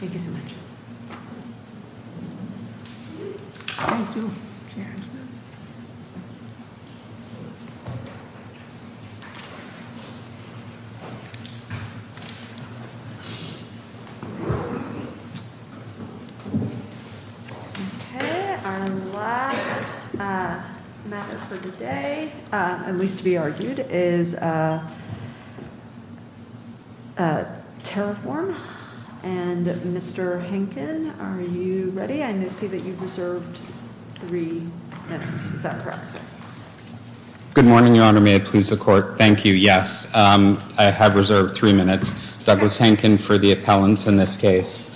Thank you so much. Okay. Our last matter for today, at least to be argued, is Terraform. And Mr. Henkin, are you ready? I see that you've reserved three minutes. Is that correct, sir? Good morning, Your Honor. May I please the Court? Thank you, yes. I have reserved three minutes. Douglas Henkin for the appellants in this case.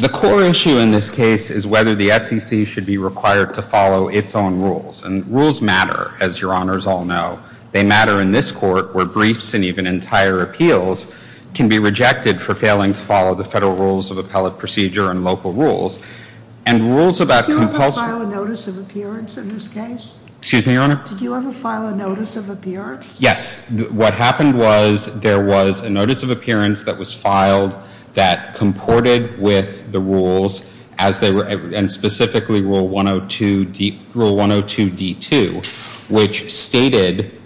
The core issue in this case is whether the SEC should be required to follow its own rules. And rules matter, as Your Honors all know. They matter in this Court where briefs and even entire appeals can be rejected for failing to follow the federal rules of appellate procedure and local rules. And rules about compulsory... Did you ever file a notice of appearance in this case? Excuse me, Your Honor? Did you ever file a notice of appearance? Yes. What happened was there was a notice of appearance that was filed that comported with the rules and specifically Rule 102D2, which stated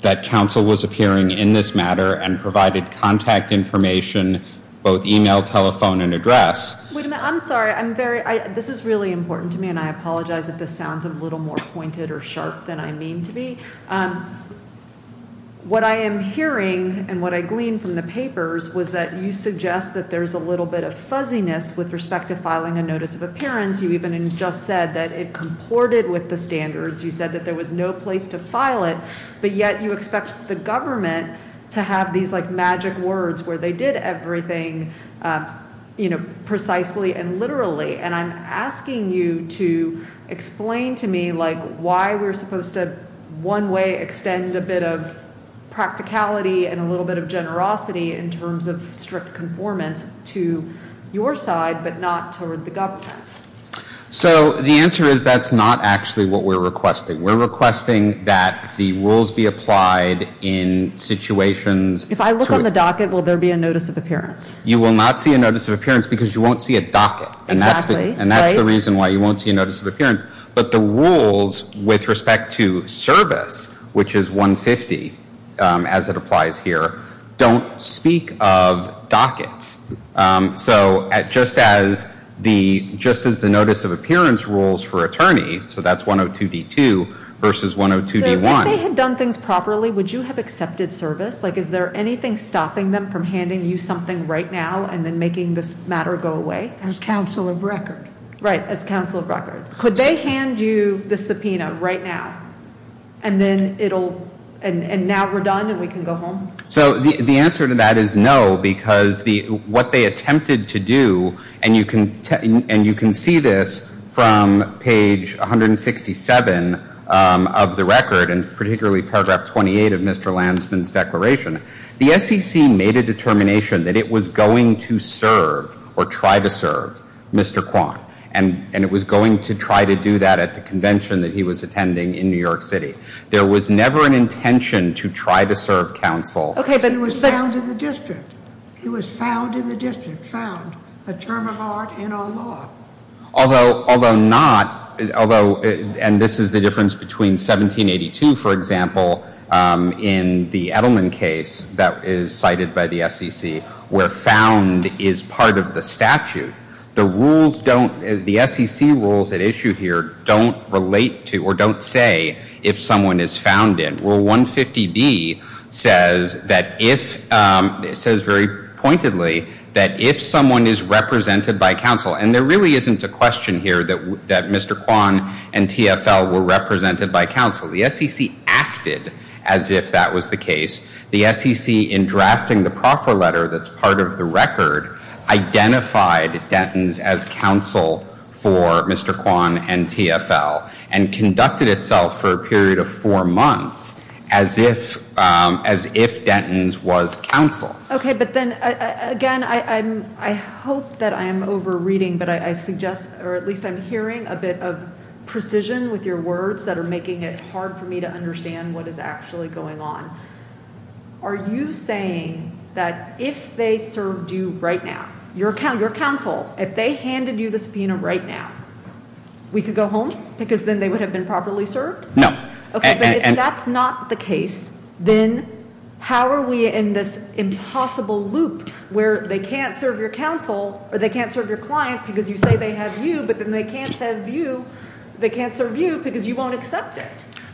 that counsel was appearing in this matter and provided contact information, both email, telephone and address. Wait a minute. I'm sorry. This is really important to me, and I apologize if this sounds a little more pointed or sharp than I mean to be. What I am hearing and what I gleaned from the papers was that you suggest that there's a little bit of fuzziness with respect to filing a notice of appearance. You even just said that it comported with the standards. You said that there was no place to file it, but yet you expect the government to have these magic words where they did everything precisely and literally. And I'm asking you to explain to me why we're supposed to one way extend a bit of practicality and a little bit of generosity in terms of strict conformance to your side, but not toward the government. So the answer is that's not actually what we're requesting. We're requesting that the rules be applied in situations. If I look on the docket, will there be a notice of appearance? You will not see a notice of appearance because you won't see a docket. Exactly. Right. And that's the reason why you won't see a notice of appearance. But the rules with respect to service, which is 150 as it applies here, don't speak of dockets. So just as the notice of appearance rules for attorney, so that's 102D2 versus 102D1. So if they had done things properly, would you have accepted service? Is there anything stopping them from handing you something right now and then making this matter go away? As counsel of record. Right. As counsel of record. Could they hand you the subpoena right now and now we're done and we can go home? So the answer to that is no because what they attempted to do, and you can see this from page 167 of the record, and particularly paragraph 28 of Mr. Lansman's declaration, the SEC made a determination that it was going to serve or try to serve Mr. Kwan, and it was going to try to do that at the convention that he was attending in New York City. There was never an intention to try to serve counsel. Okay, but he was found in the district. He was found in the district, found, a term of art in our law. Although not, although, and this is the difference between 1782, for example, in the Edelman case that is cited by the SEC where found is part of the statute. The rules don't, the SEC rules at issue here don't relate to or don't say if someone is found in. It says very pointedly that if someone is represented by counsel, and there really isn't a question here that Mr. Kwan and TFL were represented by counsel. The SEC acted as if that was the case. The SEC in drafting the proffer letter that's part of the record identified Denton's as counsel for Mr. Kwan and TFL and conducted itself for a period of four months as if, as if Denton's was counsel. Okay, but then again, I hope that I am over reading, but I suggest, or at least I'm hearing a bit of precision with your words that are making it hard for me to understand what is actually going on. Are you saying that if they served you right now, your counsel, if they handed you the subpoena right now, we could go home because then they would have been properly served? No. Okay, but if that's not the case, then how are we in this impossible loop where they can't serve your counsel or they can't serve your client because you say they have you, but then they can't serve you because you won't accept it?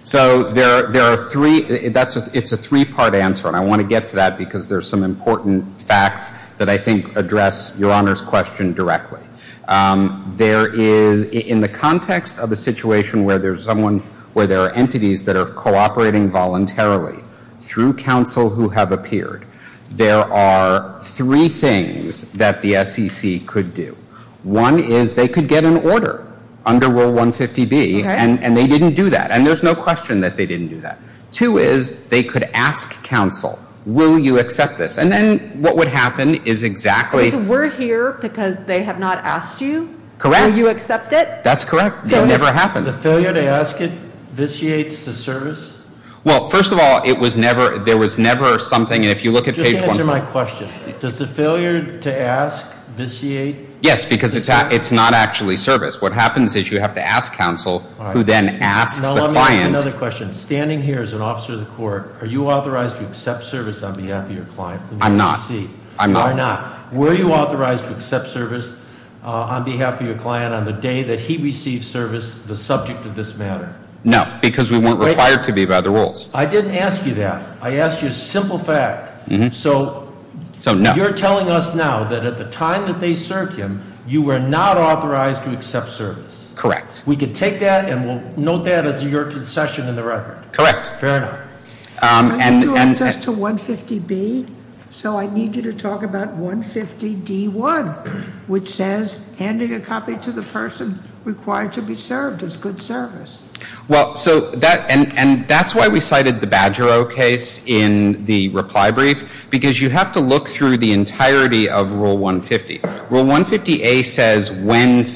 So there are three, it's a three-part answer, and I want to get to that because there's some important facts that I think address Your Honor's question directly. There is, in the context of a situation where there's someone, where there are entities that are cooperating voluntarily through counsel who have appeared, there are three things that the SEC could do. One is they could get an order under Rule 150B, and they didn't do that, and there's no question that they didn't do that. Two is they could ask counsel, will you accept this? And then what would happen is exactly. So we're here because they have not asked you? Correct. Will you accept it? That's correct. It never happened. The failure to ask it vitiates the service? Well, first of all, it was never, there was never something, and if you look at page one. Just answer my question. Does the failure to ask vitiate? Yes, because it's not actually service. What happens is you have to ask counsel who then asks the client. Now let me ask another question. Standing here as an officer of the court, are you authorized to accept service on behalf of your client? I'm not. I'm not. Were you authorized to accept service on behalf of your client on the day that he received service, the subject of this matter? No, because we weren't required to be by the rules. I didn't ask you that. I asked you a simple fact. So you're telling us now that at the time that they served him, you were not authorized to accept service. Correct. We can take that and we'll note that as your concession in the record. Correct. Fair enough. I need you to address to 150B. So I need you to talk about 150D1, which says handing a copy to the person required to be served as good service. Well, so that, and that's why we cited the Badgero case in the reply brief, because you have to look through the entirety of Rule 150. Rule 150A says when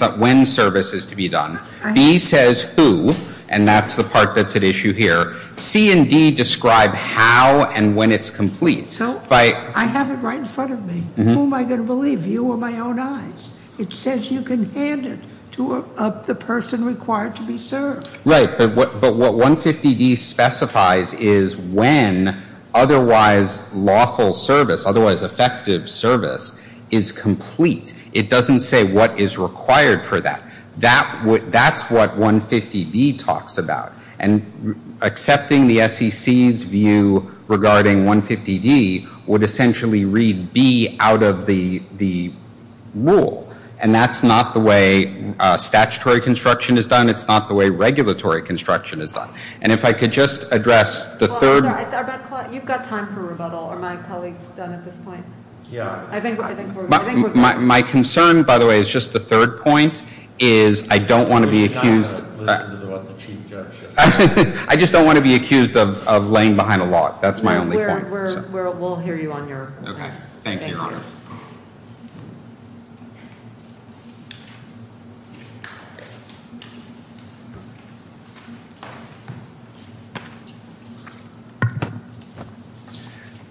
service is to be done. B says who, and that's the part that's at issue here. C and D describe how and when it's complete. So I have it right in front of me. Who am I going to believe, you or my own eyes? It says you can hand it to the person required to be served. Right, but what 150D specifies is when otherwise lawful service, otherwise effective service, is complete. It doesn't say what is required for that. That's what 150B talks about. And accepting the SEC's view regarding 150D would essentially read B out of the rule. And that's not the way statutory construction is done. It's not the way regulatory construction is done. And if I could just address the third. You've got time for rebuttal. Are my colleagues done at this point? Yeah. My concern, by the way, is just the third point is I don't want to be accused. I just don't want to be accused of laying behind a log. That's my only point. We'll hear you on your comments. Thank you.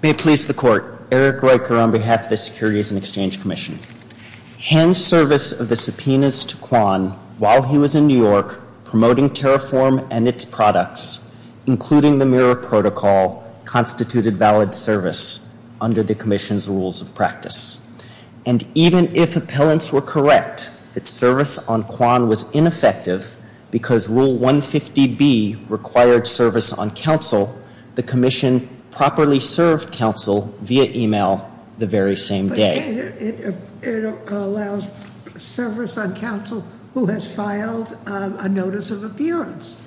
May it please the Court. Eric Ryker on behalf of the Securities and Exchange Commission. Hand service of the subpoenas to Kwan while he was in New York, promoting Terraform and its products, including the mirror protocol, constituted valid service under the commission's rules of practice. And even if appellants were correct that service on Kwan was ineffective because Rule 150B required service on counsel, the commission properly served counsel via e-mail the very same day. But it allows service on counsel who has filed a notice of appearance.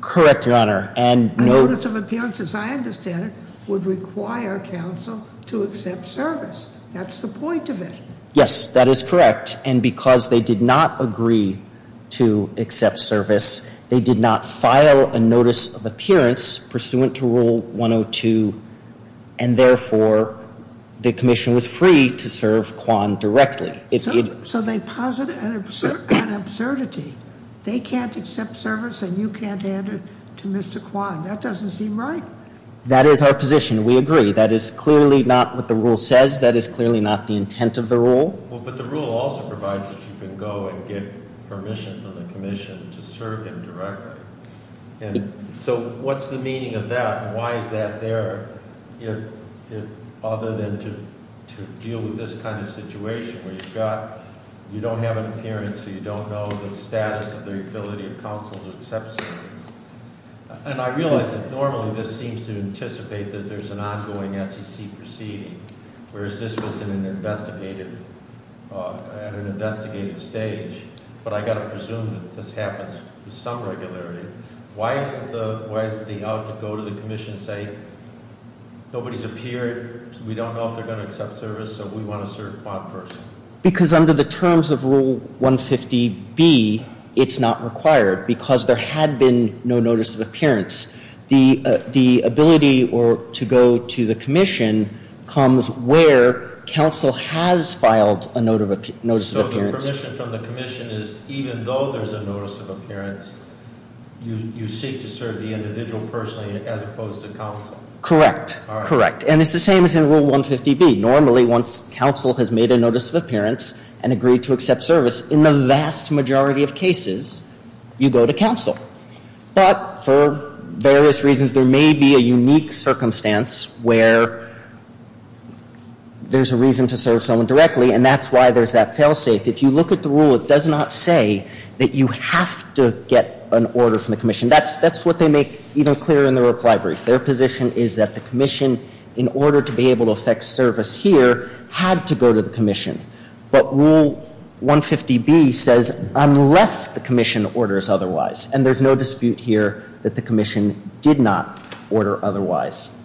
Correct, Your Honor. A notice of appearance, as I understand it, would require counsel to accept service. That's the point of it. Yes, that is correct. And because they did not agree to accept service, they did not file a notice of appearance pursuant to Rule 102, and therefore the commission was free to serve Kwan directly. So they posit an absurdity. They can't accept service and you can't hand it to Mr. Kwan. That doesn't seem right. That is our position. We agree. That is clearly not what the rule says. That is clearly not the intent of the rule. But the rule also provides that you can go and get permission from the commission to serve him directly. So what's the meaning of that? Why is that there other than to deal with this kind of situation where you don't have an appearance or you don't know the status of the ability of counsel to accept service? And I realize that normally this seems to anticipate that there's an ongoing SEC proceeding, whereas this was at an investigative stage. But I've got to presume that this happens with some regularity. Why is the out to go to the commission saying nobody's appeared, we don't know if they're going to accept service, so we want to serve Kwan first? Because under the terms of Rule 150B, it's not required because there had been no notice of appearance. The ability to go to the commission comes where counsel has filed a notice of appearance. So the permission from the commission is even though there's a notice of appearance, you seek to serve the individual personally as opposed to counsel? Correct. Correct. And it's the same as in Rule 150B. Normally once counsel has made a notice of appearance and agreed to accept service, in the vast majority of cases, you go to counsel. But for various reasons, there may be a unique circumstance where there's a reason to serve someone directly, and that's why there's that fail safe. If you look at the rule, it does not say that you have to get an order from the commission. That's what they make even clearer in the reply brief. Their position is that the commission, in order to be able to affect service here, had to go to the commission. But Rule 150B says unless the commission orders otherwise, and there's no dispute here that the commission did not order otherwise.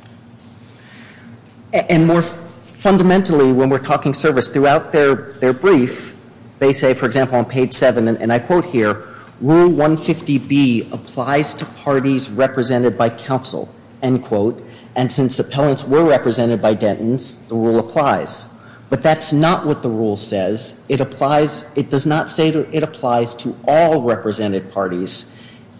And more fundamentally, when we're talking service, throughout their brief, they say, for example, on page 7, and I quote here, Rule 150B applies to parties represented by counsel, end quote, and since appellants were represented by Dentons, the rule applies. But that's not what the rule says. It applies, it does not say it applies to all represented parties.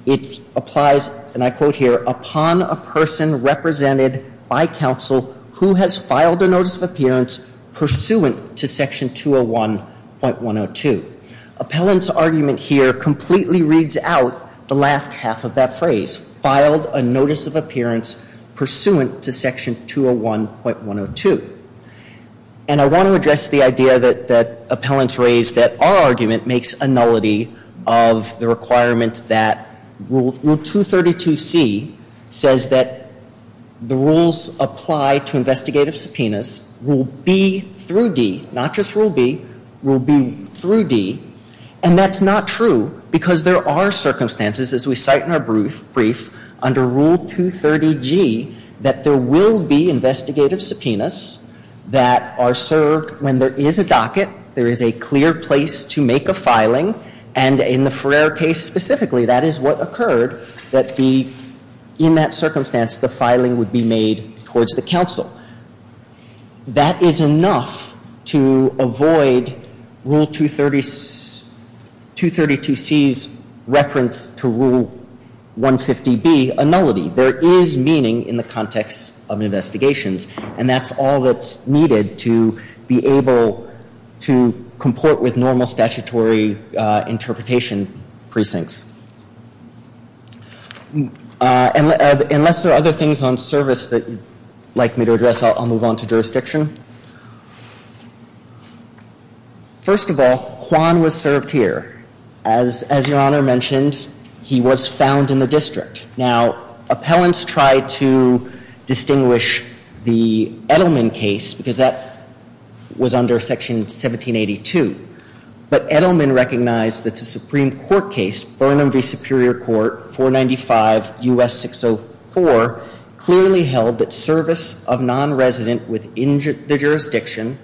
It applies, and I quote here, upon a person represented by counsel who has filed a notice of appearance pursuant to Section 201.102. Appellant's argument here completely reads out the last half of that phrase, filed a notice of appearance pursuant to Section 201.102. And I want to address the idea that appellants raised that our argument makes a nullity of the requirement that Rule 232C says that the rules apply to investigative subpoenas, Rule B through D, not just Rule B, Rule B through D, and that's not true because there are circumstances, as we cite in our brief, under Rule 230G, that there will be investigative subpoenas that are served when there is a docket, there is a clear place to make a filing, and in the Ferrer case specifically, that is what occurred that the, in that circumstance, the filing would be made towards the counsel. That is enough to avoid Rule 232C's reference to Rule 150B, a nullity. There is meaning in the context of investigations, and that's all that's needed to be able to comport with normal statutory interpretation precincts. Unless there are other things on service that you'd like me to address, I'll move on to jurisdiction. First of all, Kwan was served here. As Your Honor mentioned, he was found in the district. Now, appellants tried to distinguish the Edelman case because that was under Section 1782, but Edelman recognized that the Supreme Court case, Burnham v. Superior Court, 495 U.S. 604, clearly held that service of nonresident within the jurisdiction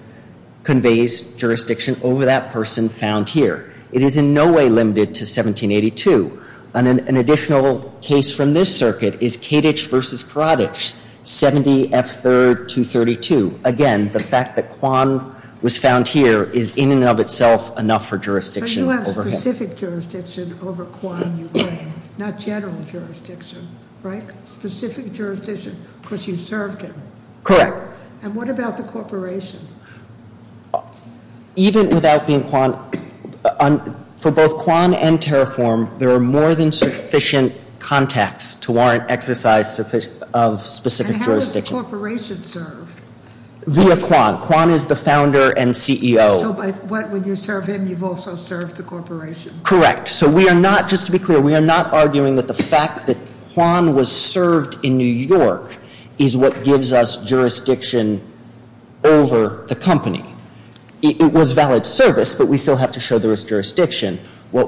conveys jurisdiction over that person found here. It is in no way limited to 1782. An additional case from this circuit is Kadich v. Karadich, 70 F. 3rd, 232. Again, the fact that Kwan was found here is in and of itself enough for jurisdiction over him. But you have specific jurisdiction over Kwan, you claim, not general jurisdiction, right? Specific jurisdiction because you served him. Correct. And what about the corporation? Even without being Kwan, for both Kwan and Terraform, there are more than sufficient contacts to warrant exercise of specific jurisdiction. Who does the corporation serve? Via Kwan. Kwan is the founder and CEO. So what, when you serve him, you've also served the corporation? Correct. So we are not, just to be clear, we are not arguing that the fact that Kwan was served in New York is what gives us jurisdiction over the company. It was valid service, but we still have to show there is jurisdiction. For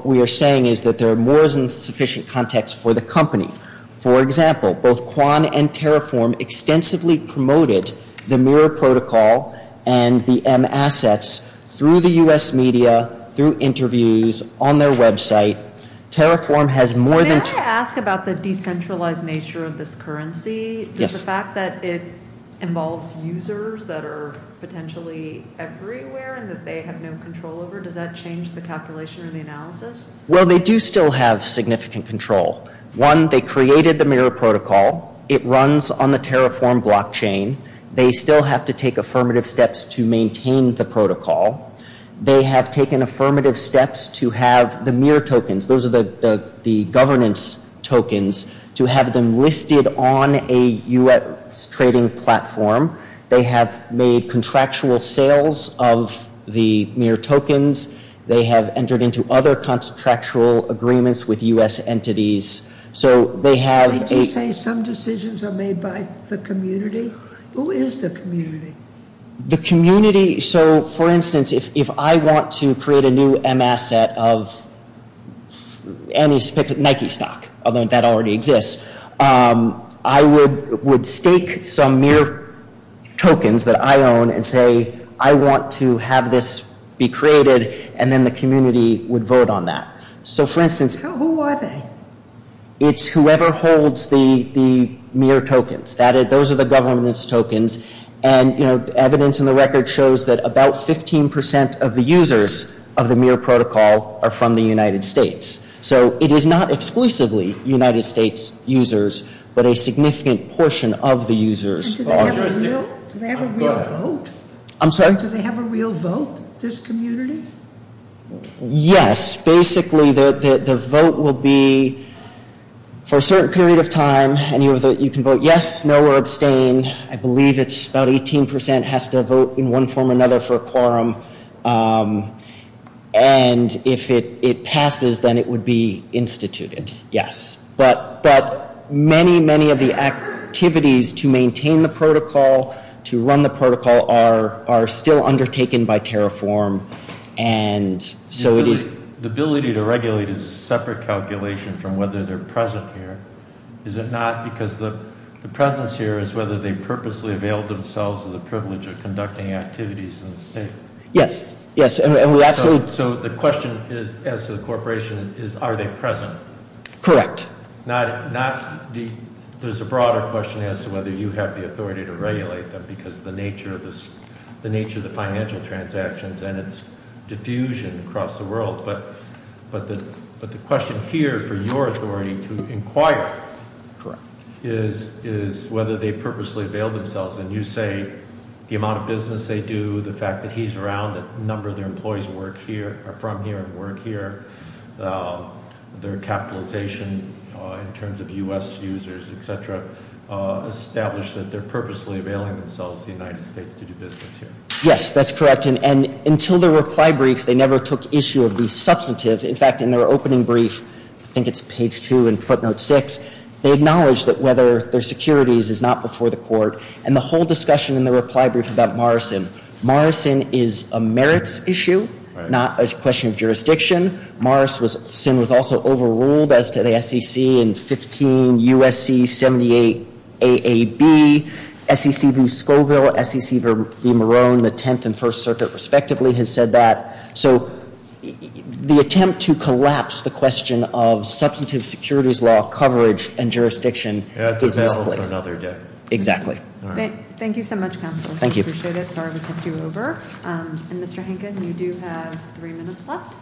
example, both Kwan and Terraform extensively promoted the mirror protocol and the M assets through the U.S. media, through interviews, on their website. Terraform has more than... May I ask about the decentralized nature of this currency? Yes. Does the fact that it involves users that are potentially everywhere and that they have no control over, does that change the calculation or the analysis? Well, they do still have significant control. One, they created the mirror protocol. It runs on the Terraform blockchain. They still have to take affirmative steps to maintain the protocol. They have taken affirmative steps to have the mirror tokens, those are the governance tokens, to have them listed on a U.S. trading platform. They have made contractual sales of the mirror tokens. They have entered into other contractual agreements with U.S. entities. So they have... Did you say some decisions are made by the community? Who is the community? The community... So, for instance, if I want to create a new M asset of any Nike stock, although that already exists, I would stake some mirror tokens that I own and say, I want to have this be created, and then the community would vote on that. So, for instance... Who are they? It's whoever holds the mirror tokens. Those are the governance tokens, and evidence in the record shows that about 15% of the users of the mirror protocol are from the United States. So it is not exclusively United States users, but a significant portion of the users... Do they have a real vote? I'm sorry? Do they have a real vote, this community? Yes. Basically, the vote will be for a certain period of time, and you can vote yes, no, or abstain. I believe it's about 18% has to vote in one form or another for a quorum. And if it passes, then it would be instituted, yes. But many, many of the activities to maintain the protocol, to run the protocol are still undertaken by Terraform, and so it is... The ability to regulate is a separate calculation from whether they're present here, is it not? Because the presence here is whether they purposely availed themselves of the privilege of conducting activities in the state. Yes, yes, and we absolutely... So the question as to the corporation is, are they present? Correct. There's a broader question as to whether you have the authority to regulate them, because of the nature of the financial transactions and its diffusion across the world. But the question here for your authority to inquire- Correct. Is whether they purposely availed themselves, and you say the amount of business they do, the fact that he's around, that a number of their employees are from here and work here, their capitalization in terms of U.S. users, et cetera, established that they're purposely availing themselves of the United States to do business here? Yes, that's correct. And until their reply brief, they never took issue of the substantive. In fact, in their opening brief, I think it's page 2 in footnote 6, they acknowledge that whether their securities is not before the court. And the whole discussion in the reply brief about Morrison, Morrison is a merits issue, not a question of jurisdiction. Morrison was also overruled as to the SEC in 15 U.S.C. 78 A.A.B. S.E.C. V. Scoville, S.E.C. V. Marone, the Tenth and First Circuit, respectively, has said that. So the attempt to collapse the question of substantive securities law coverage and jurisdiction is misplaced. That's held for another decade. Exactly. Thank you so much, counsel. Thank you. I appreciate it. Sorry to take you over. And Mr. Henkin, you do have three minutes left.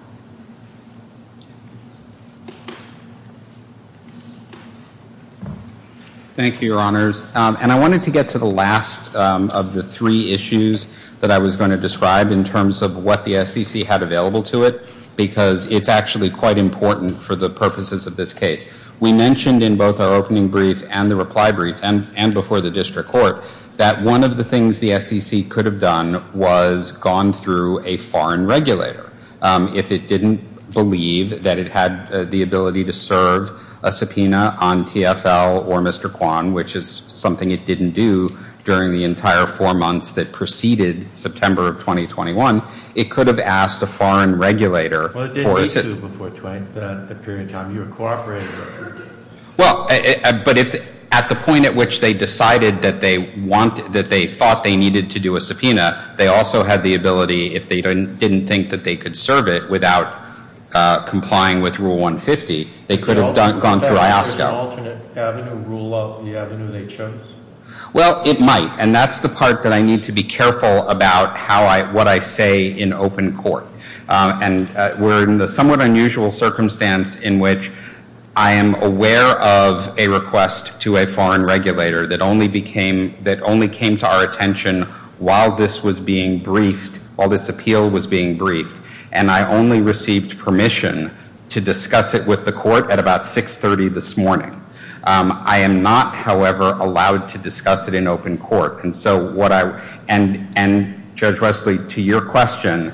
Thank you, Your Honors. And I wanted to get to the last of the three issues that I was going to describe in terms of what the SEC had available to it, because it's actually quite important for the purposes of this case. We mentioned in both our opening brief and the reply brief and before the district court that one of the things the SEC could have done was gone through a foreign regulator. If it didn't believe that it had the ability to serve a subpoena on TFL or Mr. Kwan, which is something it didn't do during the entire four months that preceded September of 2021, it could have asked a foreign regulator for assistance. Well, it didn't need to before the period of time you were cooperating with. Well, but at the point at which they decided that they thought they needed to do a subpoena, they also had the ability, if they didn't think that they could serve it without complying with Rule 150, they could have gone through IASCA. Is that an alternate avenue, rule of the avenue they chose? Well, it might. And that's the part that I need to be careful about what I say in open court. And we're in the somewhat unusual circumstance in which I am aware of a request to a foreign regulator that only came to our attention while this was being briefed, while this appeal was being briefed, and I only received permission to discuss it with the court at about 6.30 this morning. I am not, however, allowed to discuss it in open court. And Judge Wesley, to your question,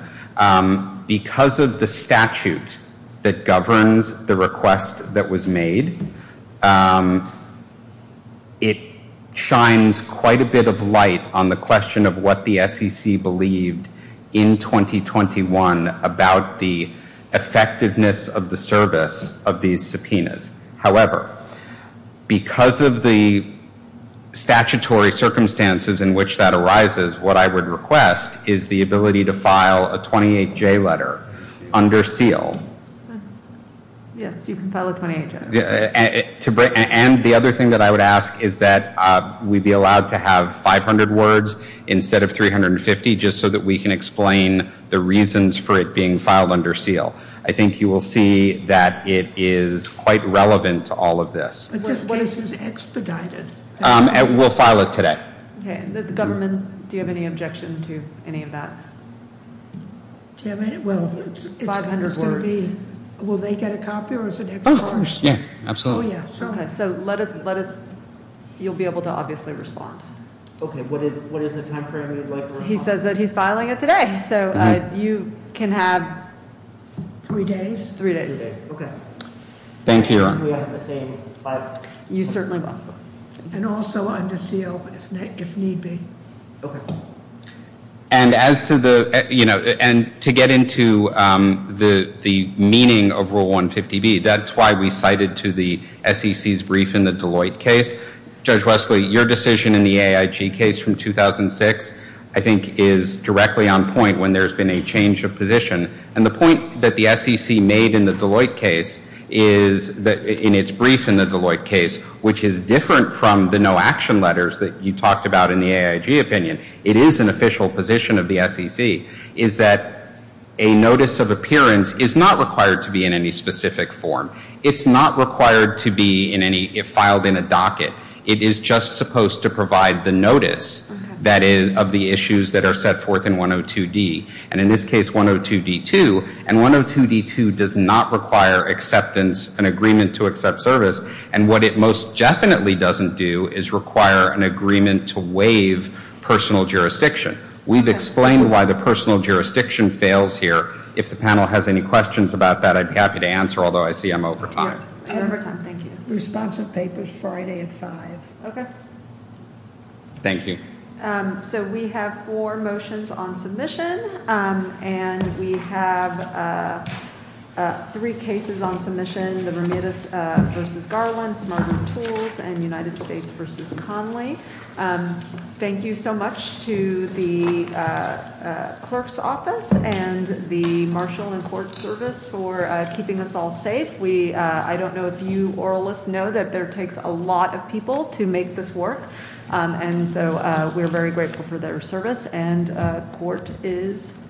because of the statute that governs the request that was made, it shines quite a bit of light on the question of what the SEC believed in 2021 about the effectiveness of the service of these subpoenas. However, because of the statutory circumstances in which that arises, what I would request is the ability to file a 28-J letter under seal. Yes, you can file a 28-J. And the other thing that I would ask is that we be allowed to have 500 words instead of 350 just so that we can explain the reasons for it being filed under seal. I think you will see that it is quite relevant to all of this. We'll file it today. Okay. And the government, do you have any objection to any of that? Well, it's going to be, will they get a copy? Of course. Yeah, absolutely. So let us, you'll be able to obviously respond. Okay. What is the time frame you'd like to respond? He says that he's filing it today. So you can have three days. Three days. Okay. Thank you. And also under seal if need be. Okay. And as to the, you know, and to get into the meaning of Rule 150B, that's why we cited to the SEC's brief in the Deloitte case. Judge Wesley, your decision in the AIG case from 2006 I think is directly on point when there's been a change of position. And the point that the SEC made in the Deloitte case is, in its brief in the Deloitte case, which is different from the no action letters that you talked about in the AIG opinion, it is an official position of the SEC, is that a notice of appearance is not required to be in any specific form. It's not required to be filed in a docket. It is just supposed to provide the notice of the issues that are set forth in 102D. And in this case, 102D2. And 102D2 does not require acceptance, an agreement to accept service. And what it most definitely doesn't do is require an agreement to waive personal jurisdiction. We've explained why the personal jurisdiction fails here. If the panel has any questions about that, I'd be happy to answer. Although I see I'm over time. We're over time. Thank you. Responsive papers Friday at 5. Okay. Thank you. So we have four motions on submission. And we have three cases on submission, the Bermudez v. Garland, Smart Move Tools, and United States v. Conley. Thank you so much to the clerk's office And the marshal and court service for keeping us all safe. I don't know if you oralists know that there takes a lot of people to make this work. And so we're very grateful for their service. And court is adjourned.